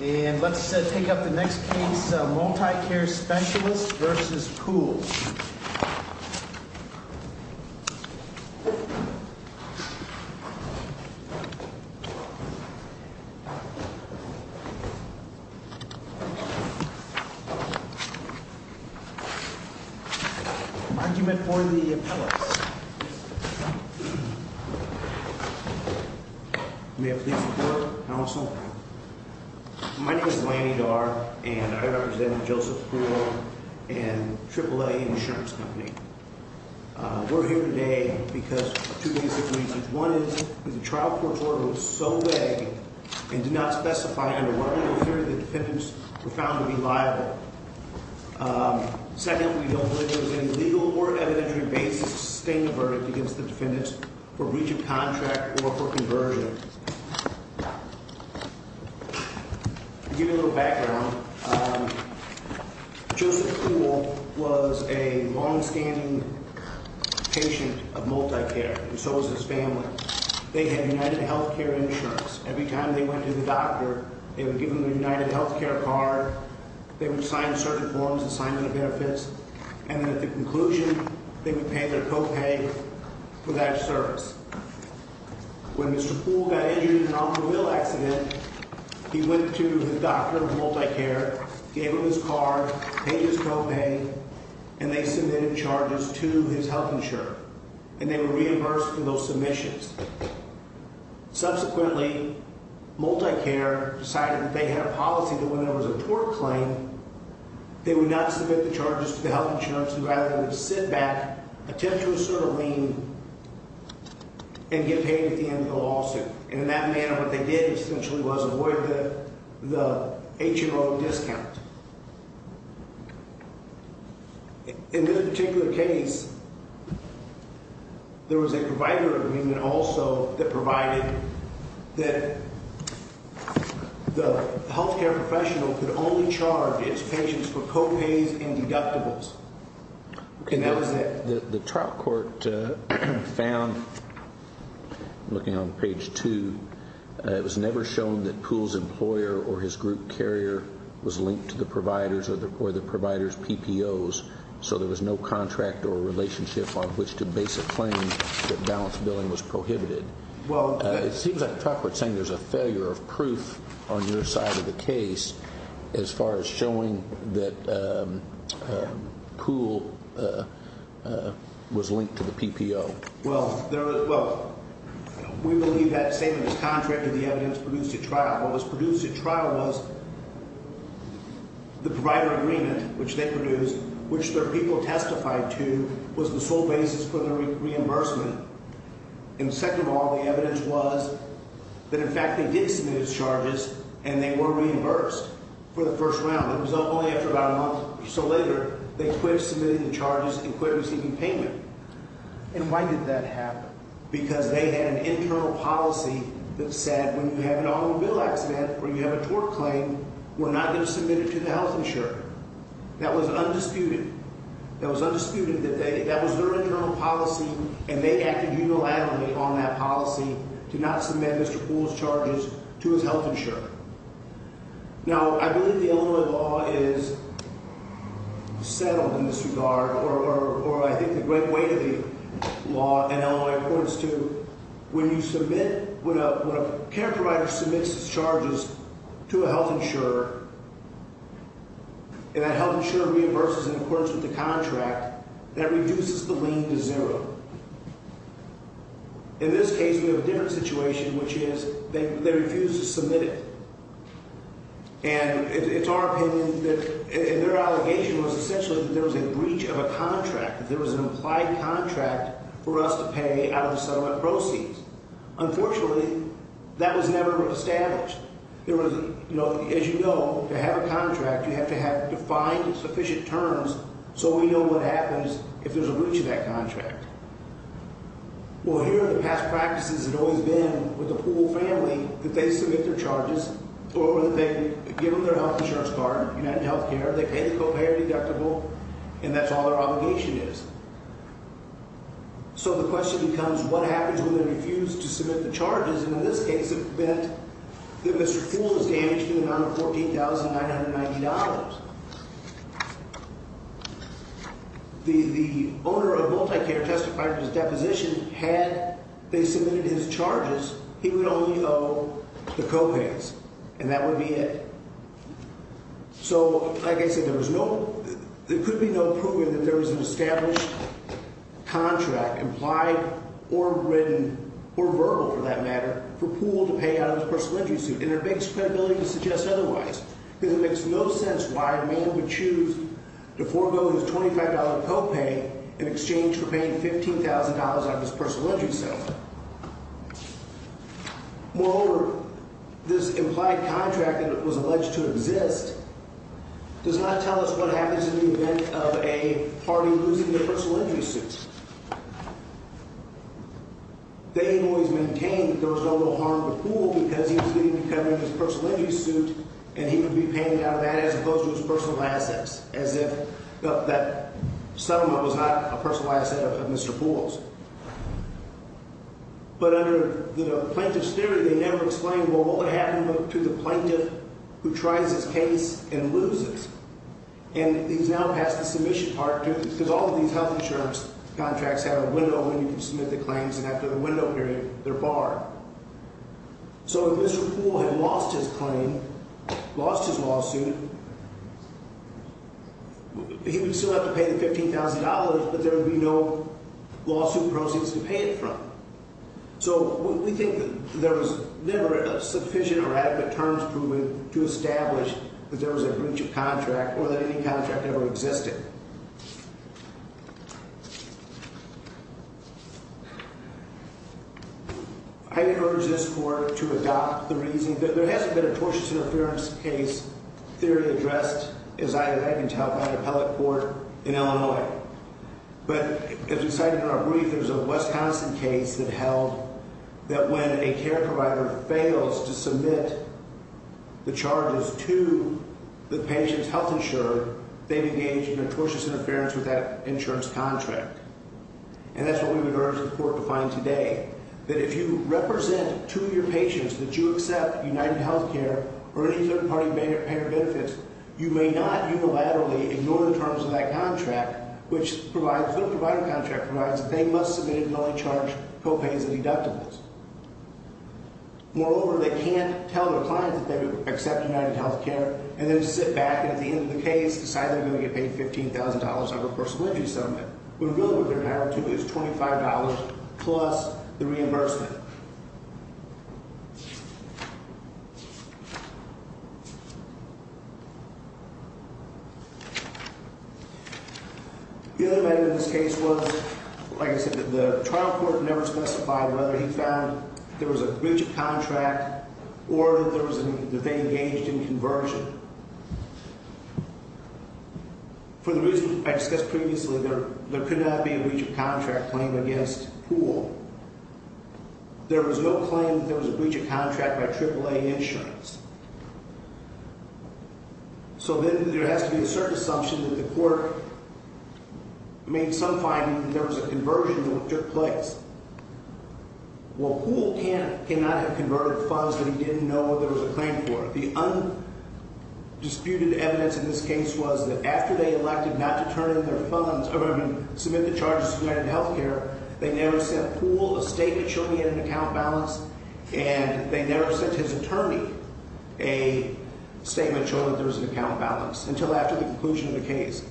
And let's take up the next case, Multicare Specialists v. Poole. Argument for the appellants. May I please report, counsel? My name is Lanny Darr, and I represent Joseph Poole and AAA Insurance Company. We're here today because of two basic reasons. One is that the trial court's order was so vague and did not specify under what legal theory the defendants were found to be liable. Second, we don't believe there was any legal or evidentiary basis to sustain the verdict against the defendants for breach of contract or for conversion. To give you a little background, Joseph Poole was a longstanding patient of Multicare, and so was his family. They had UnitedHealthcare insurance. Every time they went to the doctor, they would give them a UnitedHealthcare card. They would sign certain forms, assignment of benefits. And then at the conclusion, they would pay their co-pay for that service. When Mr. Poole got injured in an automobile accident, he went to the doctor of Multicare, gave him his card, paid his co-pay, and they submitted charges to his health insurer. And they were reimbursed for those submissions. Subsequently, Multicare decided that they had a policy that when there was a tort claim, they would not submit the charges to the health insurance, and rather they would sit back, attempt to assert a lien, and get paid at the end of the lawsuit. And in that manner, what they did essentially was avoid the HMO discount. In this particular case, there was a provider agreement also that provided that the health care professional could only charge its patients for co-pays and deductibles. And that was it. The trial court found, looking on page 2, it was never shown that Poole's employer or his group carrier was linked to the provider's PPOs, so there was no contract or relationship on which to base a claim that balance billing was prohibited. It seems like the trial court is saying there's a failure of proof on your side of the case as far as showing that Poole was linked to the PPO. Well, we believe that statement is contrary to the evidence produced at trial. What was produced at trial was the provider agreement, which they produced, which their people testified to was the sole basis for the reimbursement. And second of all, the evidence was that, in fact, they did submit its charges, and they were reimbursed for the first round. It was only after about a month or so later they quit submitting the charges and quit receiving payment. And why did that happen? Because they had an internal policy that said when you have an automobile accident or you have a tort claim, we're not going to submit it to the health insurer. That was undisputed. That was their internal policy, and they acted unilaterally on that policy to not submit Mr. Poole's charges to his health insurer. Now, I believe the Illinois law is settled in this regard, or I think the great weight of the law in Illinois, of course, too, is that when you submit, when a care provider submits its charges to a health insurer and that health insurer reimburses in accordance with the contract, that reduces the lien to zero. In this case, we have a different situation, which is they refuse to submit it. And it's our opinion that their allegation was essentially that there was a breach of a contract, that there was an implied contract for us to pay out of the settlement proceeds. Unfortunately, that was never established. There was, you know, as you know, to have a contract, you have to have defined sufficient terms so we know what happens if there's a breach of that contract. Well, here are the past practices that always been with the Poole family, that they submit their charges, or that they give them their health insurance card, UnitedHealthcare, they pay the copay or deductible, and that's all their obligation is. So the question becomes, what happens when they refuse to submit the charges? And in this case, it meant that Mr. Poole was damaged in the amount of $14,990. The owner of MultiCare testified to his deposition. Had they submitted his charges, he would only owe the copays, and that would be it. So, like I said, there was no – there could be no proving that there was an established contract, implied or written or verbal, for that matter, for Poole to pay out of his personal injury suit. And it makes credibility to suggest otherwise, because it makes no sense why a man would choose to forego his $25 copay in exchange for paying $15,000 on his personal injury settlement. Moreover, this implied contract that was alleged to exist does not tell us what happens in the event of a party losing their personal injury suit. They always maintained that there was no real harm to Poole because he was legally covered in his personal injury suit, and he would be paid out of that as opposed to his personal assets, as if that settlement was not a personal asset of Mr. Poole's. But under the plaintiff's theory, they never explained, well, what would happen to the plaintiff who tries his case and loses? And he's now passed the submission part, too, because all of these health insurance contracts have a window when you can submit the claims, and after the window period, they're barred. So if Mr. Poole had lost his claim, lost his lawsuit, he would still have to pay the $15,000, but there would be no lawsuit proceeds to pay it from. So we think that there was never sufficient or adequate terms proven to establish that there was a breach of contract or that any contract ever existed. I encourage this court to adopt the reasoning that there hasn't been a tortious interference case theory addressed, as I have been told by an appellate court in Illinois. But as we cited in our brief, there's a Wisconsin case that held that when a care provider fails to submit the charges to the patient's health insurer, they've engaged in a tortious interference with that insurance contract. And that's what we would urge the court to find today, that if you represent two of your patients that you accept UnitedHealthcare or any third-party payer benefits, you may not unilaterally ignore the terms of that contract, which provides, the provider contract provides that they must submit and only charge co-pays and deductibles. Moreover, they can't tell their client that they accept UnitedHealthcare and then sit back and at the end of the case decide they're going to get paid $15,000 out of a personal injury settlement, when really what they're entitled to is $25 plus the reimbursement. The other matter in this case was, like I said, the trial court never specified whether he found there was a breach of contract or that they engaged in conversion. For the reason I discussed previously, there could not be a breach of contract claim against Poole. There was no claim that there was a breach of contract by AAA Insurance. So then there has to be a certain assumption that the court made some finding that there was a conversion that took place. Well, Poole cannot have converted funds that he didn't know there was a claim for. The undisputed evidence in this case was that after they elected not to turn in their funds or submit the charges to UnitedHealthcare, they never sent Poole a statement showing he had an account balance. And they never sent his attorney a statement showing there was an account balance until after the conclusion of the case.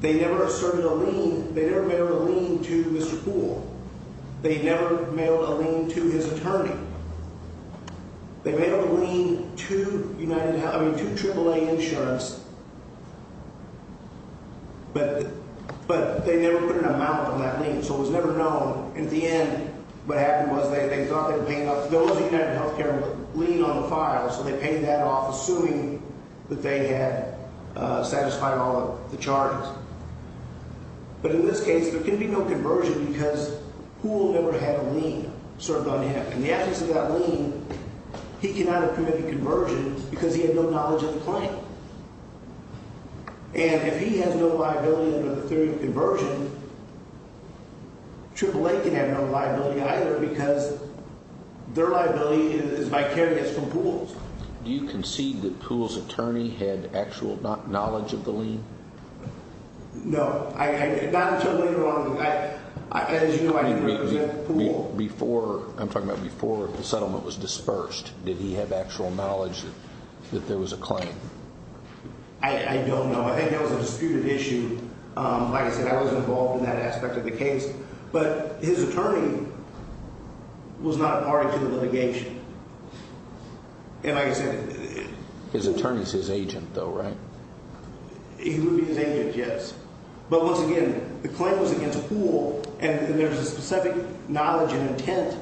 They never asserted a lien. They never mailed a lien to Mr. Poole. They mailed a lien to UnitedHealth – I mean to AAA Insurance, but they never put an amount on that lien, so it was never known. In the end, what happened was they thought they were paying off – those at UnitedHealthcare would lien on the file, so they paid that off assuming that they had satisfied all of the charges. But in this case, there can be no conversion because Poole never had a lien served on him. In the absence of that lien, he cannot have committed conversion because he had no knowledge of the claim. And if he has no liability under the theory of conversion, AAA can have no liability either because their liability is vicarious from Poole's. Do you concede that Poole's attorney had actual knowledge of the lien? No. Not until later on. As you know, I didn't represent Poole. Before – I'm talking about before the settlement was dispersed, did he have actual knowledge that there was a claim? I don't know. I think that was a disputed issue. Like I said, I wasn't involved in that aspect of the case. But his attorney was not party to the litigation. And like I said – His attorney is his agent, though, right? He would be his agent, yes. But once again, the claim was against Poole, and there's a specific knowledge and intent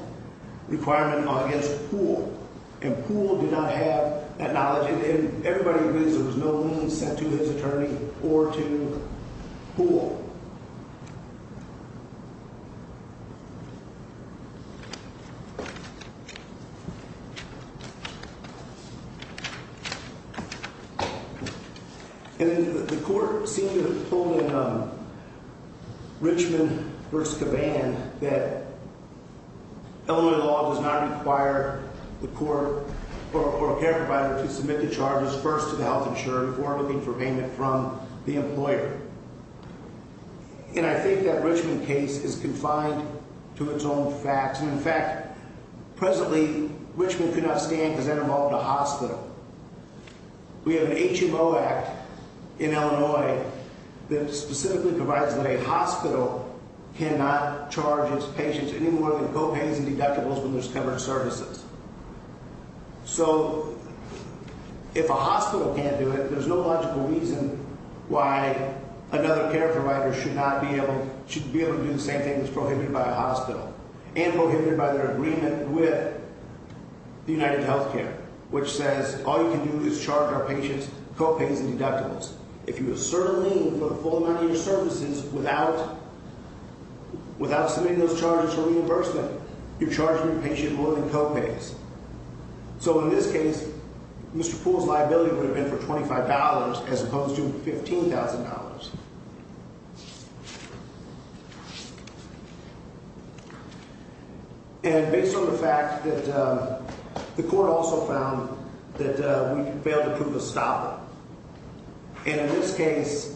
requirement against Poole. And Poole did not have that knowledge. And everybody agrees there was no lien sent to his attorney or to Poole. And the court seemed to have pulled in Richmond v. Caban that Illinois law does not require the court or a care provider to submit the charges first to the health insurer before looking for payment from the employer. And I think that Richmond case is confined to its own facts. And, in fact, presently, Richmond could not stand because that involved a hospital. We have an HMO Act in Illinois that specifically provides that a hospital cannot charge its patients any more than co-pays and deductibles when there's covered services. So if a hospital can't do it, there's no logical reason why another care provider should not be able – should be able to do the same thing that's prohibited by a hospital and prohibited by their agreement with the UnitedHealthcare, which says all you can do is charge our patients co-pays and deductibles. If you assert a lien for the full amount of your services without submitting those charges for reimbursement, you're charging your patient more than co-pays. So in this case, Mr. Poole's liability would have been for $25 as opposed to $15,000. And based on the fact that the court also found that we failed to prove a stopper, and in this case,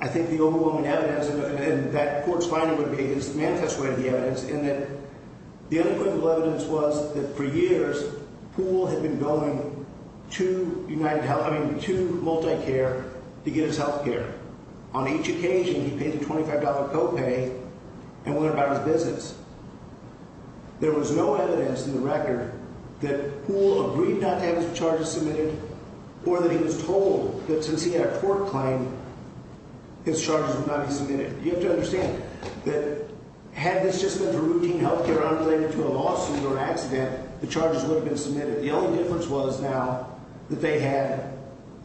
I think the overwhelming evidence – and that court's finding would be – is the manifest way of the evidence, in that the unequivocal evidence was that for years, Poole had been billing two UnitedHealth – I mean, two multi-care hospitals. Two multi-care to get his health care. On each occasion, he paid the $25 co-pay and went about his business. There was no evidence in the record that Poole agreed not to have his charges submitted or that he was told that since he had a court claim, his charges would not be submitted. You have to understand that had this just been a routine health care unrelated to a lawsuit or accident, the charges would have been submitted. The only difference was now that they had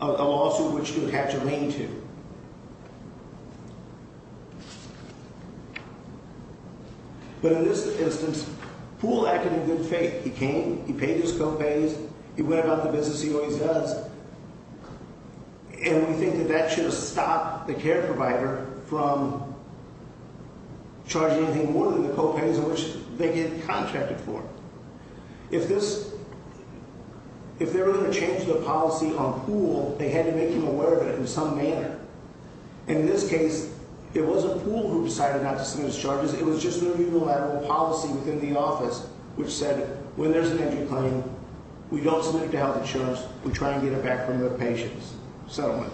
a lawsuit which you would have to lean to. But in this instance, Poole acted in good faith. He came, he paid his co-pays, he went about the business he always does, and we think that that should have stopped the care provider from charging anything more than the co-pays on which they get contracted for. If this – if they were going to change the policy on Poole, they had to make him aware of it in some manner. In this case, it wasn't Poole who decided not to submit his charges. It was just the people who had a policy within the office which said when there's an injury claim, we don't submit it to health insurance. We try and get it back from the patient's settlement.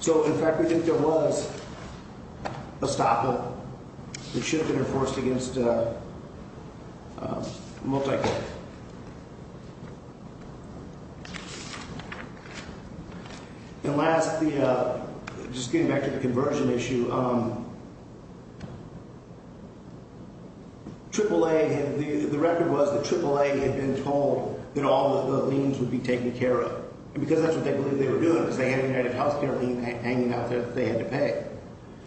So, in fact, we think there was a stop. It should have been enforced against a multi-court. And last, just getting back to the conversion issue, AAA – the record was that AAA had been told that all the liens would be taken care of. And because that's what they believed they were doing, because they had a UnitedHealthcare lien hanging out there that they had to pay.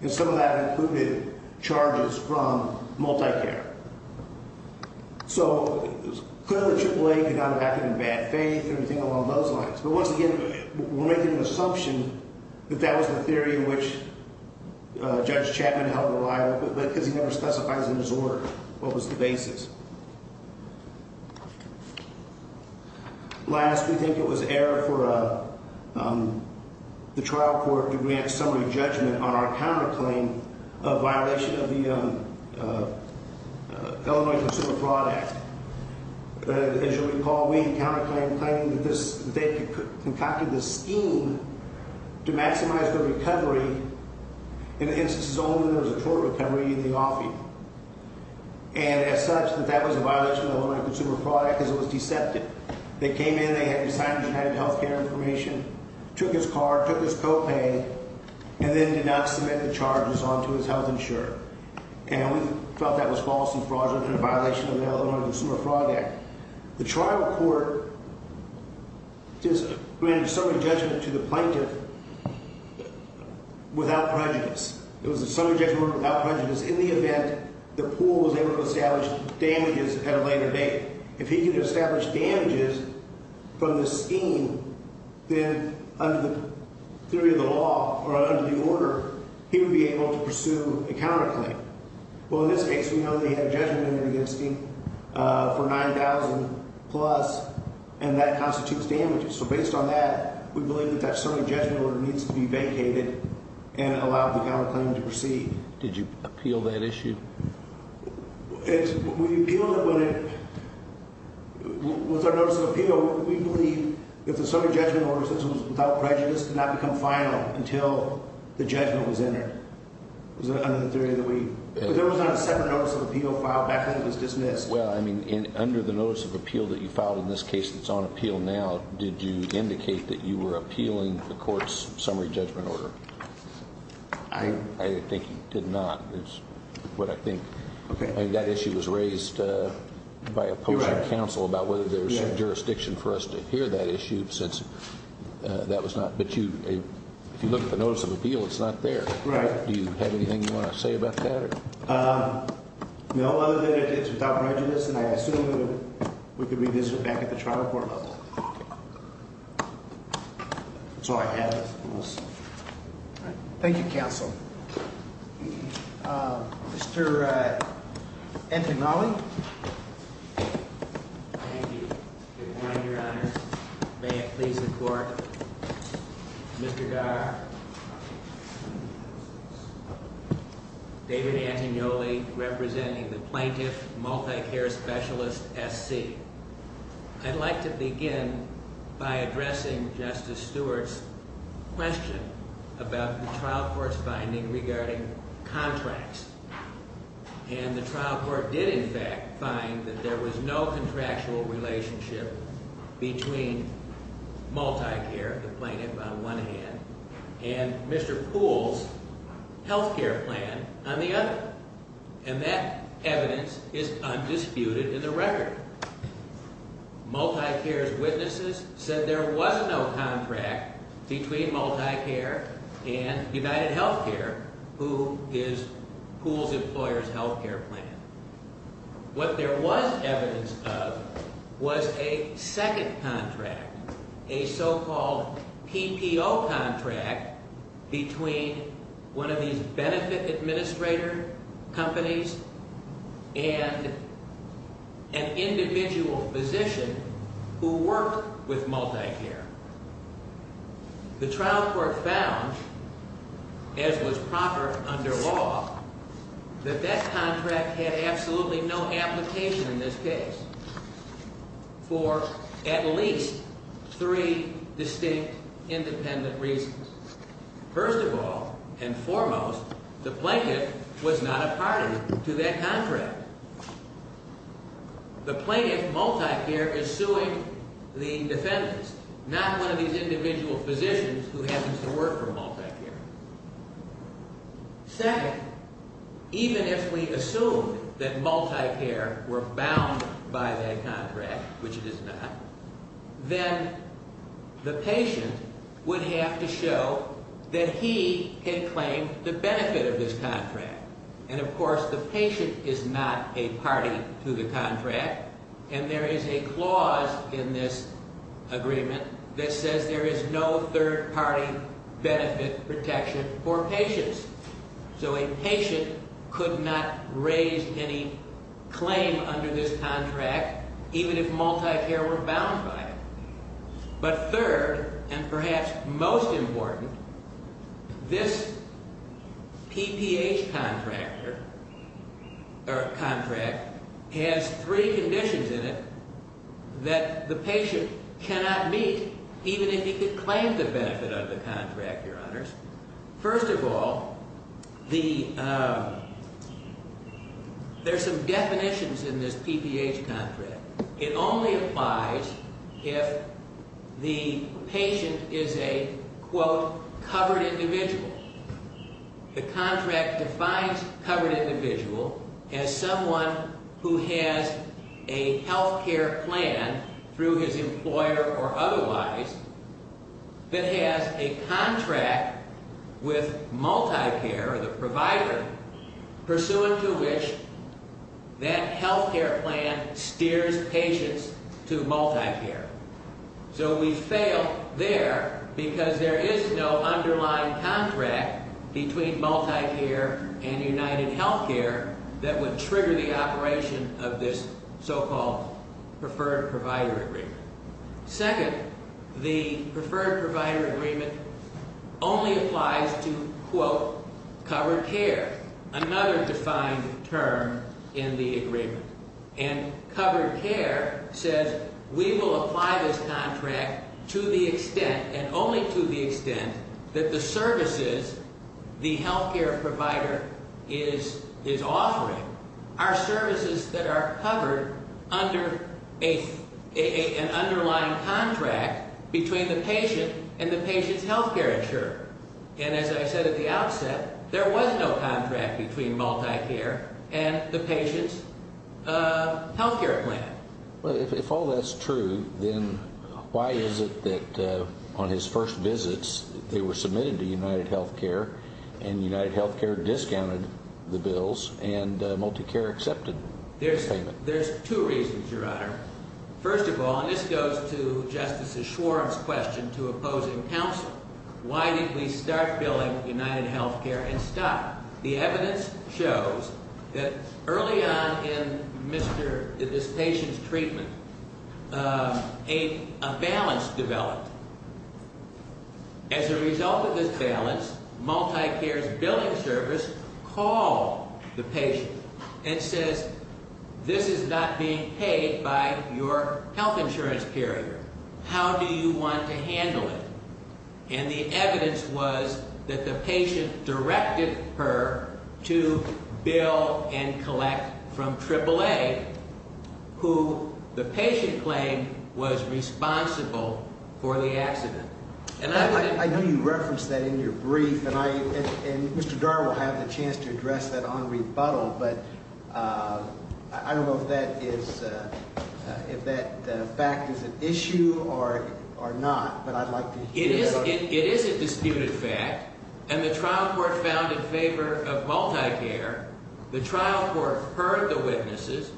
And some of that included charges from multi-care. So, clearly AAA could not have acted in bad faith or anything along those lines. But once again, we're making an assumption that that was the theory in which Judge Chapman held reliable, but because he never specifies in his order what was the basis. Last, we think it was error for the trial court to grant summary judgment on our counterclaim of violation of the Illinois Consumer Fraud Act. As you'll recall, we counterclaimed claiming that they concocted this scheme to maximize the recovery in instances only when there was a court recovery in the offing. And as such, that that was a violation of the Illinois Consumer Fraud Act because it was deceptive. They came in, they had signed the UnitedHealthcare information, took his card, took his copay, and then did not submit the charges onto his health insurer. And we felt that was false and fraudulent and a violation of the Illinois Consumer Fraud Act. The trial court just granted summary judgment to the plaintiff without prejudice. It was a summary judgment without prejudice in the event the pool was able to establish damages at a later date. If he could establish damages from this scheme, then under the theory of the law or under the order, he would be able to pursue a counterclaim. Well, in this case, we know that he had a judgment in it against him for $9,000 plus, and that constitutes damages. So based on that, we believe that that summary judgment order needs to be vacated and allow the counterclaim to proceed. Did you appeal that issue? We appealed it when it – with our notice of appeal, we believe that the summary judgment order, since it was without prejudice, could not become final until the judgment was entered. It was under the theory that we – but there was not a separate notice of appeal filed back then that was dismissed. Well, I mean, under the notice of appeal that you filed in this case that's on appeal now, did you indicate that you were appealing the court's summary judgment order? I think you did not. That's what I think. Okay. I mean, that issue was raised by a portion of counsel about whether there's jurisdiction for us to hear that issue since that was not – but you – if you look at the notice of appeal, it's not there. Right. Do you have anything you want to say about that? No, other than it's without prejudice, and I assume we could revisit that at the trial court level. That's all I have on this. All right. Thank you, counsel. Mr. Antonali. Thank you. Good morning, Your Honor. May it please the Court. Mr. Garr. David Antonioli, representing the Plaintiff Multicare Specialist, SC. I'd like to begin by addressing Justice Stewart's question about the trial court's finding regarding contracts. And the trial court did, in fact, find that there was no contractual relationship between Multicare, the plaintiff on one hand, and Mr. Poole's health care plan on the other. And that evidence is undisputed in the record. Multicare's witnesses said there was no contract between Multicare and UnitedHealthcare, who is Poole's employer's health care plan. What there was evidence of was a second contract, a so-called PPO contract, between one of these benefit administrator companies and an individual physician who worked with Multicare. The trial court found, as was proper under law, that that contract had absolutely no application in this case for at least three distinct independent reasons. First of all, and foremost, the plaintiff was not a party to that contract. The plaintiff, Multicare, is suing the defendants, not one of these individual physicians who happens to work for Multicare. Second, even if we assume that Multicare were bound by that contract, which it is not, then the patient would have to show that he had claimed the benefit of this contract. And, of course, the patient is not a party to the contract, and there is a clause in this agreement that says there is no third-party benefit protection for patients. So a patient could not raise any claim under this contract, even if Multicare were bound by it. But third, and perhaps most important, this PPH contract has three conditions in it that the patient cannot meet, even if he could claim the benefit of the contract, Your Honors. First of all, there are some definitions in this PPH contract. It only applies if the patient is a, quote, covered individual. The contract defines covered individual as someone who has a health care plan through his employer or otherwise that has a contract with Multicare, or the provider, pursuant to which that health care plan steers patients to Multicare. So we fail there because there is no underlying contract between Multicare and UnitedHealthcare that would trigger the operation of this so-called preferred provider agreement. Second, the preferred provider agreement only applies to, quote, covered care, another defined term in the agreement. And covered care says we will apply this contract to the extent and only to the extent that the services the health care provider is offering are services that are covered under an underlying contract between the patient and the patient's health care insurer. And as I said at the outset, there was no contract between Multicare and the patient's health care plan. Well, if all that's true, then why is it that on his first visits they were submitted to UnitedHealthcare and UnitedHealthcare discounted the bills and Multicare accepted the payment? There's two reasons, Your Honor. First of all, and this goes to Justice Schwarm's question to opposing counsel, why did we start billing UnitedHealthcare and stop? The evidence shows that early on in this patient's treatment, a balance developed. As a result of this balance, Multicare's billing service called the patient and says, this is not being paid by your health insurance carrier. How do you want to handle it? And the evidence was that the patient directed her to bill and collect from AAA, who the patient claimed was responsible for the accident. And I know you referenced that in your brief. And I and Mr. Dar will have the chance to address that on rebuttal. But I don't know if that is if that fact is an issue or or not. It is a disputed fact, and the trial court found in favor of Multicare. The trial court heard the witnesses,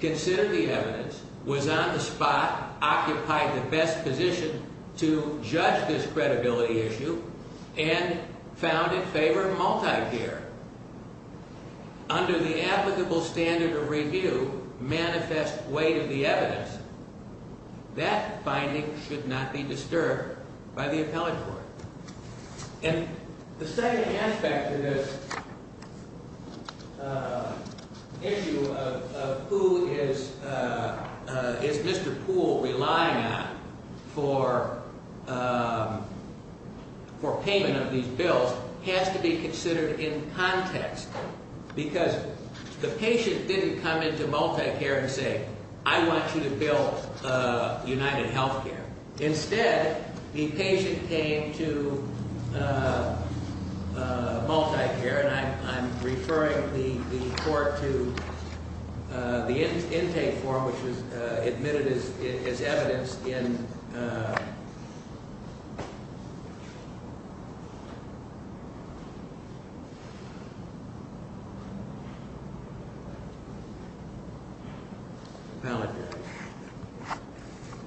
considered the evidence, was on the spot, occupied the best position to judge this credibility issue, and found in favor of Multicare. Under the applicable standard of review, manifest weight of the evidence, that finding should not be disturbed by the appellate court. And the second aspect of this issue of who is is Mr. Poole relying on for for payment of these bills has to be considered in context. Because the patient didn't come into Multicare and say, I want you to bill UnitedHealthcare. Instead, the patient came to Multicare, and I'm referring the court to the intake form, which was admitted as evidence in.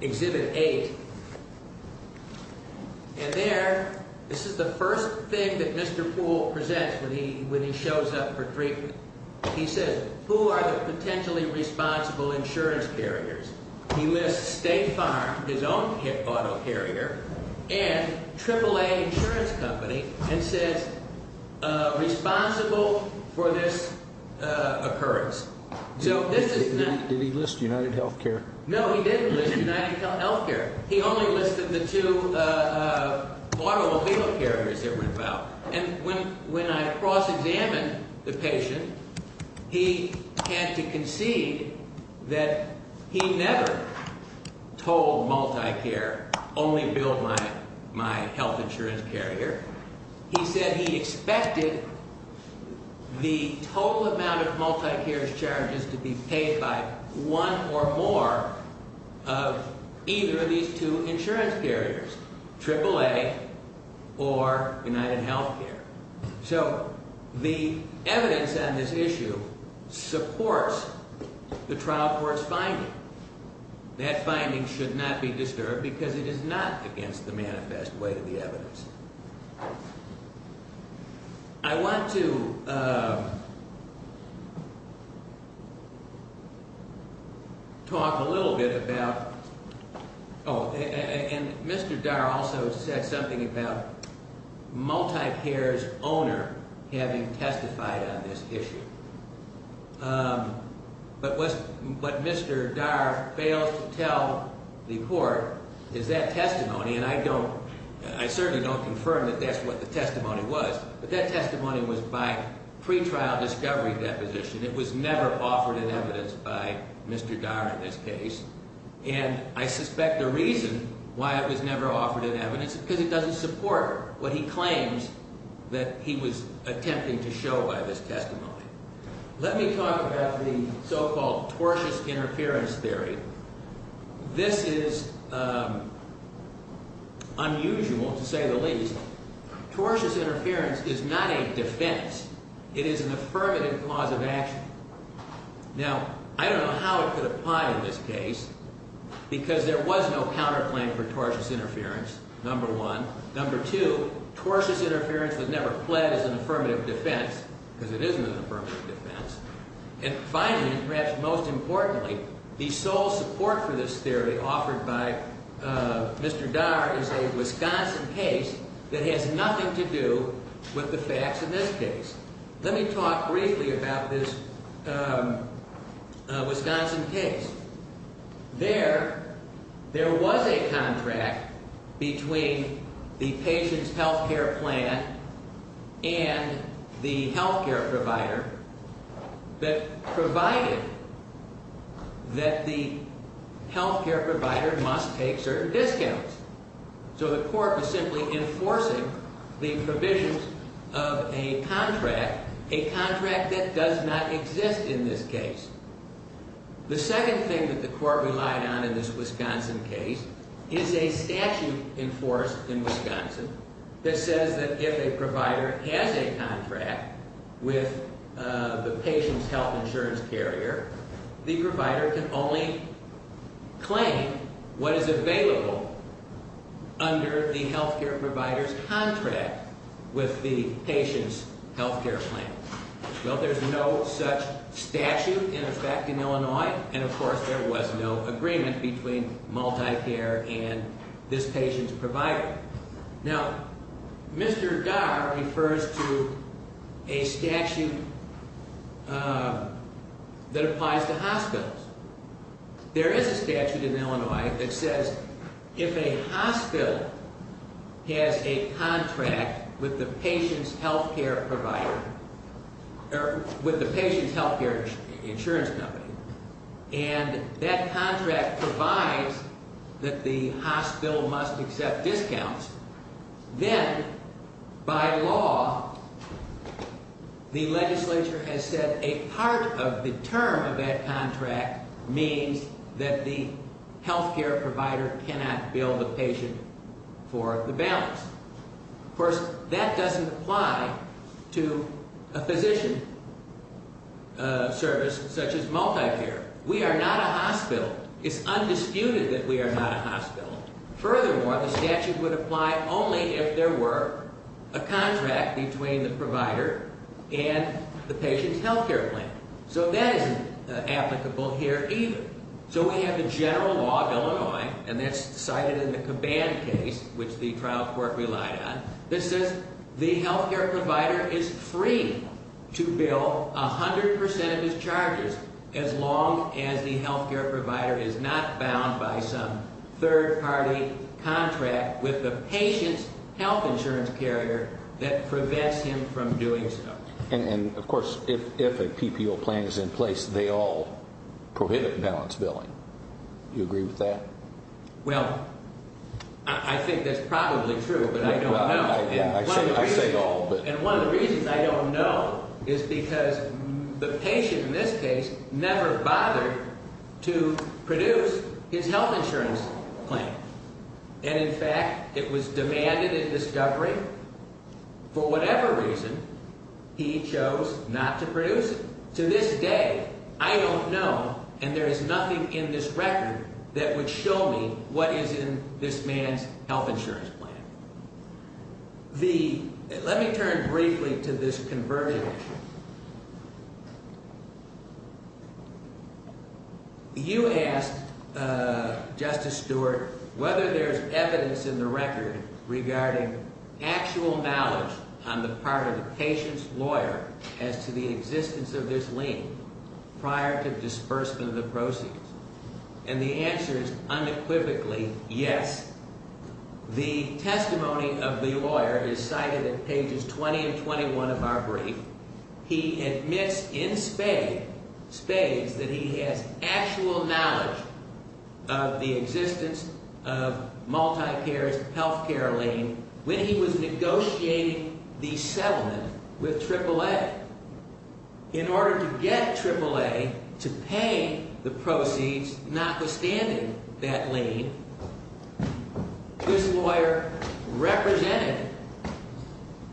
Exhibit eight. And there, this is the first thing that Mr. Poole presents when he when he shows up for treatment. He says, who are the potentially responsible insurance carriers? He lists State Farm, his own auto carrier, and AAA Insurance Company, and says responsible for this occurrence. So this is not. Did he list UnitedHealthcare? No, he didn't list UnitedHealthcare. He only listed the two automobile carriers that were involved. And when when I cross examine the patient, he had to concede that he never told Multicare only billed my my health insurance carrier. He said he expected the total amount of Multicare's charges to be paid by one or more of either of these two insurance carriers, AAA or UnitedHealthcare. So the evidence on this issue supports the trial court's finding. That finding should not be disturbed because it is not against the manifest way of the evidence. I want to talk a little bit about. Oh, and Mr. Dar also said something about Multicare's owner having testified on this issue. But what Mr. Dar fails to tell the court is that testimony. And I don't I certainly don't confirm that that's what the testimony was. But that testimony was by pretrial discovery deposition. It was never offered in evidence by Mr. Dar in this case. And I suspect the reason why it was never offered in evidence because it doesn't support what he claims that he was attempting to show by this testimony. Let me talk about the so-called tortious interference theory. This is unusual, to say the least. Tortious interference is not a defense. It is an affirmative cause of action. Now, I don't know how it could apply in this case because there was no counterclaim for tortious interference, number one. Number two, tortious interference was never pledged as an affirmative defense because it isn't an affirmative defense. And finally, and perhaps most importantly, the sole support for this theory offered by Mr. Dar is a Wisconsin case that has nothing to do with the facts in this case. Let me talk briefly about this Wisconsin case. There, there was a contract between the patient's health care plan and the health care provider that provided that the health care provider must take certain discounts. So the court was simply enforcing the provisions of a contract, a contract that does not exist in this case. The second thing that the court relied on in this Wisconsin case is a statute enforced in Wisconsin that says that if a provider has a contract with the patient's health insurance carrier, the provider can only claim what is available under the health care provider's contract with the patient's health care plan. Well, there's no such statute in effect in Illinois, and of course there was no agreement between MultiCare and this patient's provider. Now, Mr. Dar refers to a statute that applies to hospitals. There is a statute in Illinois that says if a hospital has a contract with the patient's health care provider, or with the patient's health care insurance company, and that contract provides that the hospital must accept discounts, then by law, the legislature has said a part of the term of that contract means that the health care provider cannot bill the patient for the balance. Of course, that doesn't apply to a physician service such as MultiCare. We are not a hospital. It's undisputed that we are not a hospital. Furthermore, the statute would apply only if there were a contract between the provider and the patient's health care plan. So that isn't applicable here either. So we have a general law of Illinois, and that's cited in the Caban case, which the trial court relied on, that says the health care provider is free to bill 100% of his charges as long as the health care provider is not bound by some third-party contract with the patient's health insurance carrier that prevents him from doing so. And of course, if a PPO plan is in place, they all prohibit balance billing. Do you agree with that? Well, I think that's probably true, but I don't know. I say all, but... And one of the reasons I don't know is because the patient in this case never bothered to produce his health insurance plan. And in fact, it was demanded in discovery. For whatever reason, he chose not to produce it. To this day, I don't know, and there is nothing in this record that would show me what is in this man's health insurance plan. Let me turn briefly to this conversion issue. You asked, Justice Stewart, whether there's evidence in the record regarding actual knowledge on the part of the patient's lawyer as to the existence of this lien prior to disbursement of the proceeds. And the answer is unequivocally yes. The testimony of the lawyer is cited in pages 20 and 21 of our brief. He admits in spades that he has actual knowledge of the existence of MultiCare's health care lien when he was negotiating the settlement with AAA. Yet, in order to get AAA to pay the proceeds, notwithstanding that lien, this lawyer represented,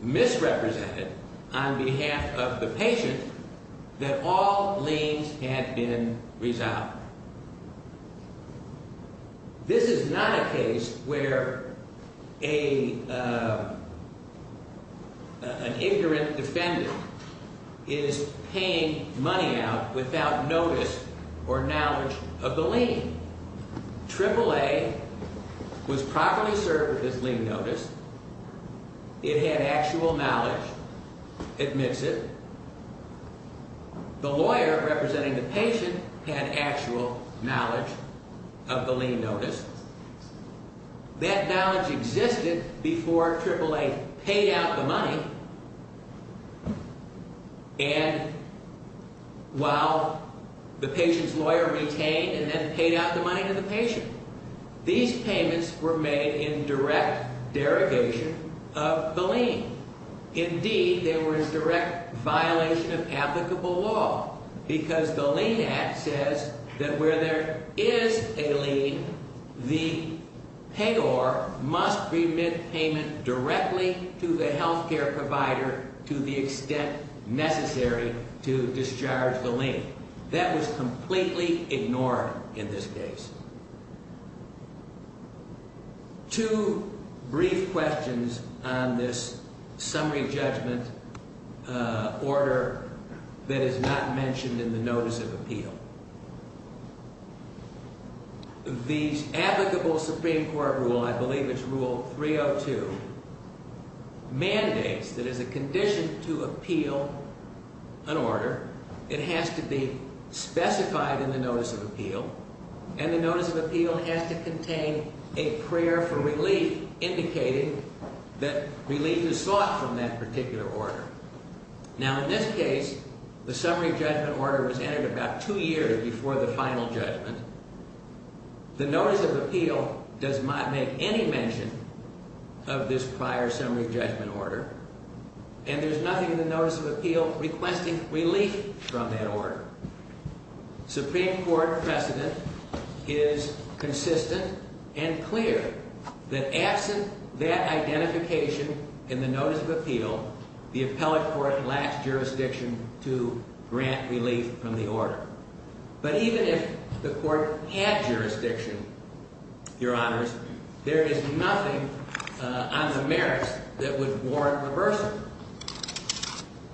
misrepresented, on behalf of the patient, that all liens had been resolved. Now, this is not a case where an ignorant defendant is paying money out without notice or knowledge of the lien. AAA was properly served with this lien notice. It had actual knowledge. Admits it. The lawyer representing the patient had actual knowledge of the lien notice. That knowledge existed before AAA paid out the money and while the patient's lawyer retained and then paid out the money to the patient. These payments were made in direct derogation of the lien. Indeed, they were in direct violation of applicable law because the lien act says that where there is a lien, the payor must remit payment directly to the health care provider to the extent necessary to discharge the lien. That was completely ignored in this case. Two brief questions on this summary judgment order that is not mentioned in the notice of appeal. The applicable Supreme Court rule, I believe it's rule 302, mandates that as a condition to appeal an order, it has to be specified in the notice of appeal. And the notice of appeal has to contain a prayer for relief indicating that relief is sought from that particular order. Now, in this case, the summary judgment order was entered about two years before the final judgment. The notice of appeal does not make any mention of this prior summary judgment order. And there's nothing in the notice of appeal requesting relief from that order. Supreme Court precedent is consistent and clear that absent that identification in the notice of appeal, the appellate court lacks jurisdiction to grant relief from the order. But even if the court had jurisdiction, Your Honors, there is nothing on the merits that would warrant reversal.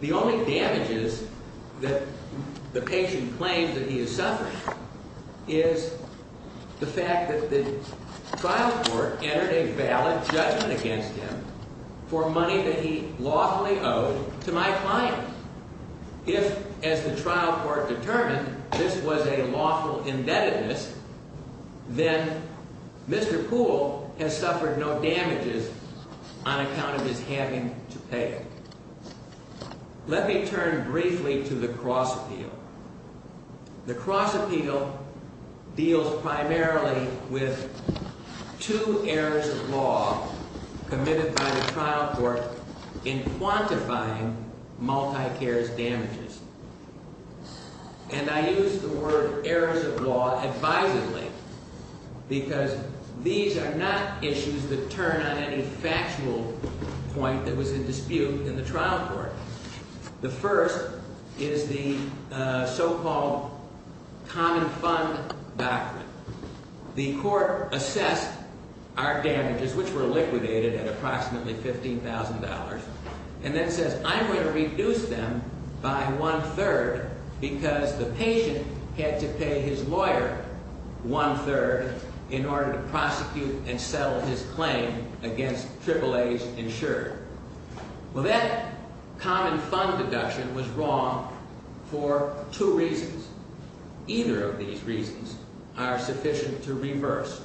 The only damages that the patient claims that he is suffering is the fact that the trial court entered a valid judgment against him for money that he lawfully owed to my client. If, as the trial court determined, this was a lawful indebtedness, then Mr. Poole has suffered no damages on account of his having to pay it. Let me turn briefly to the cross appeal. The cross appeal deals primarily with two errors of law committed by the trial court in quantifying multi-cares damages. And I use the word errors of law advisedly because these are not issues that turn on any factual point that was in dispute in the trial court. The first is the so-called common fund doctrine. The court assessed our damages, which were liquidated at approximately $15,000, and then says, I'm going to reduce them by one-third because the patient had to pay his lawyer one-third in order to prosecute and settle his claim against AAAs insured. Well, that common fund deduction was wrong for two reasons. Either of these reasons are sufficient to reverse. It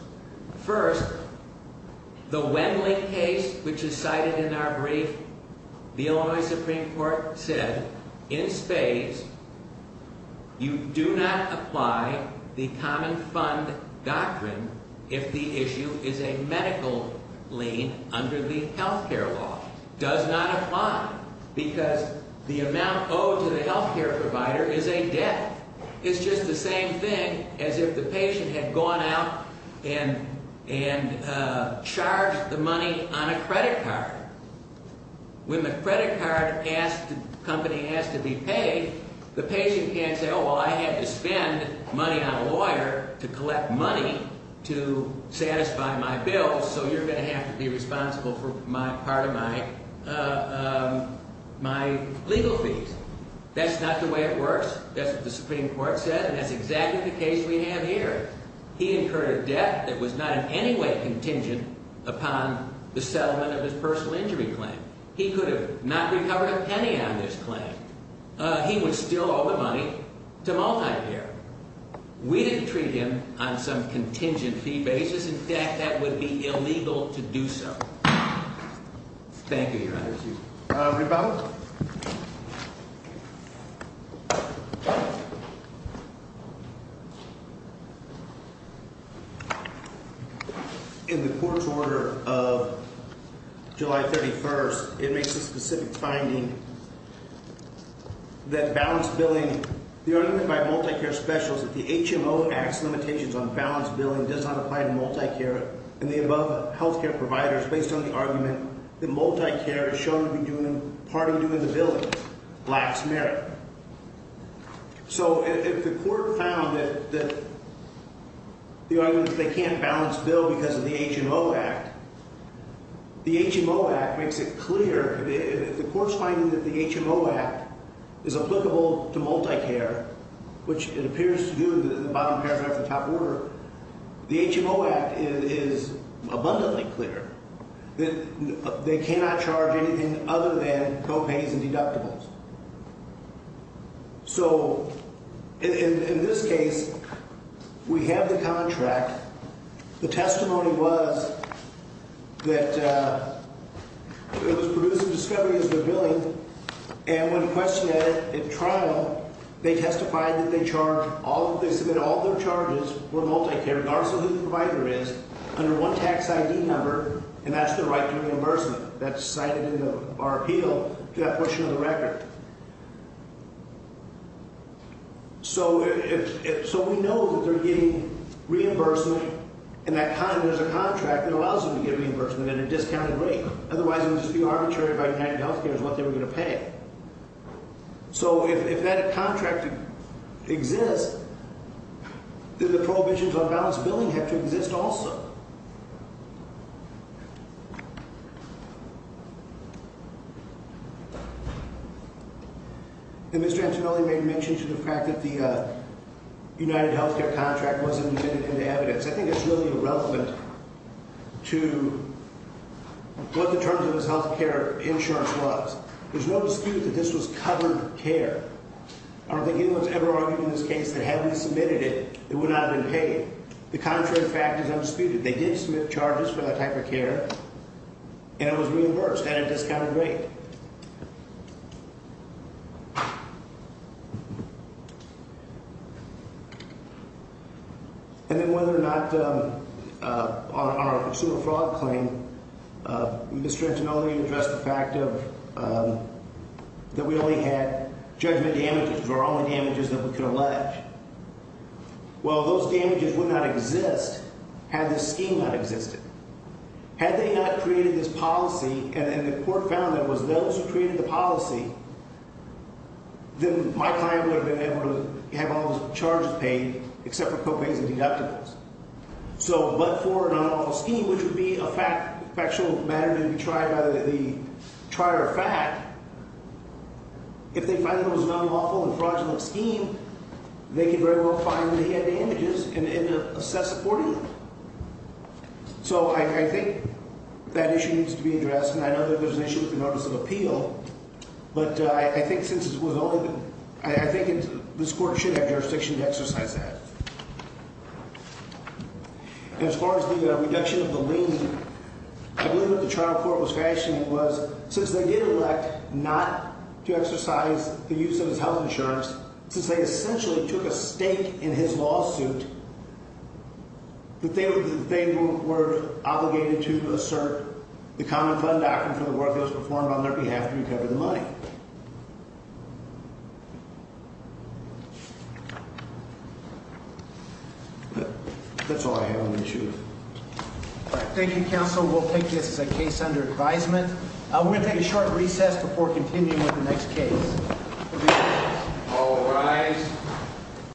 does not apply because the amount owed to the health care provider is a debt. It's just the same thing as if the patient had gone out and charged the money on a credit card. When the credit card company has to be paid, the patient can't say, oh, well, I had to spend money on a lawyer to collect money to satisfy my bill, so you're going to have to be responsible for part of my legal fees. That's not the way it works. That's what the Supreme Court said, and that's exactly the case we have here. He incurred a debt that was not in any way contingent upon the settlement of his personal injury claim. He could have not recovered a penny on this claim. He would still owe the money to multi-payer. We didn't treat him on some contingent fee basis. In fact, that would be illegal to do so. Thank you, Your Honor. Rebound. In the court's order of July 31st, it makes a specific finding that balance billing, the unlimited by multi-care specials, that the HMO acts limitations on balance billing does not apply to multi-care. And the above health care providers, based on the argument that multi-care is shown to be part of doing the billing, lacks merit. So if the court found that they can't balance bill because of the HMO Act, the HMO Act makes it clear. If the court's finding that the HMO Act is applicable to multi-care, which it appears to do, the bottom paragraph of the top order, the HMO Act is abundantly clear that they cannot charge anything other than co-pays and deductibles. So in this case, we have the contract. The testimony was that it was produced in discovery as the billing, and when questioned at trial, they testified that they charged all of this, that all their charges were multi-care, regardless of who the provider is, under one tax ID number, and that's the right to reimbursement. That's cited in our appeal to that portion of the record. So we know that they're getting reimbursement, and there's a contract that allows them to get reimbursement at a discounted rate. Otherwise, it would just be arbitrary by UnitedHealthcare as what they were going to pay. So if that contract exists, then the prohibitions on balance billing have to exist also. And Mr. Antonelli made mention to the fact that the UnitedHealthcare contract wasn't admitted into evidence. I think it's really irrelevant to what the terms of his health care insurance was. There's no dispute that this was covered care. I don't think anyone's ever argued in this case that had we submitted it, it would not have been paid. The contrary fact is undisputed. They did submit charges for that type of care, and it was reimbursed at a discounted rate. And then whether or not on our consumer fraud claim, Mr. Antonelli addressed the fact that we only had judgment damages, or only damages that we could allege. Well, those damages would not exist had this scheme not existed. Had they not created this policy, and the court found that it was those who created the policy, then my client would have been able to have all those charges paid except for co-pays and deductibles. So, but for an unlawful scheme, which would be a factual matter to be tried by the trier of fact, if they find that it was an unlawful and fraudulent scheme, they could very well find the damages and assess supporting them. So I think that issue needs to be addressed. And I know that there's an issue with the notice of appeal. But I think since it was only the – I think this court should have jurisdiction to exercise that. As far as the reduction of the lien, I believe what the trial court was fashioning was since they did elect not to exercise the use of his health insurance, since they essentially took a stake in his lawsuit, that they were obligated to assert the common fund doctrine for the work that was performed on their behalf to recover the money. That's all I have on the issue. Thank you, counsel. We'll take this as a case under advisement. We're going to take a short recess before continuing with the next case. All rise.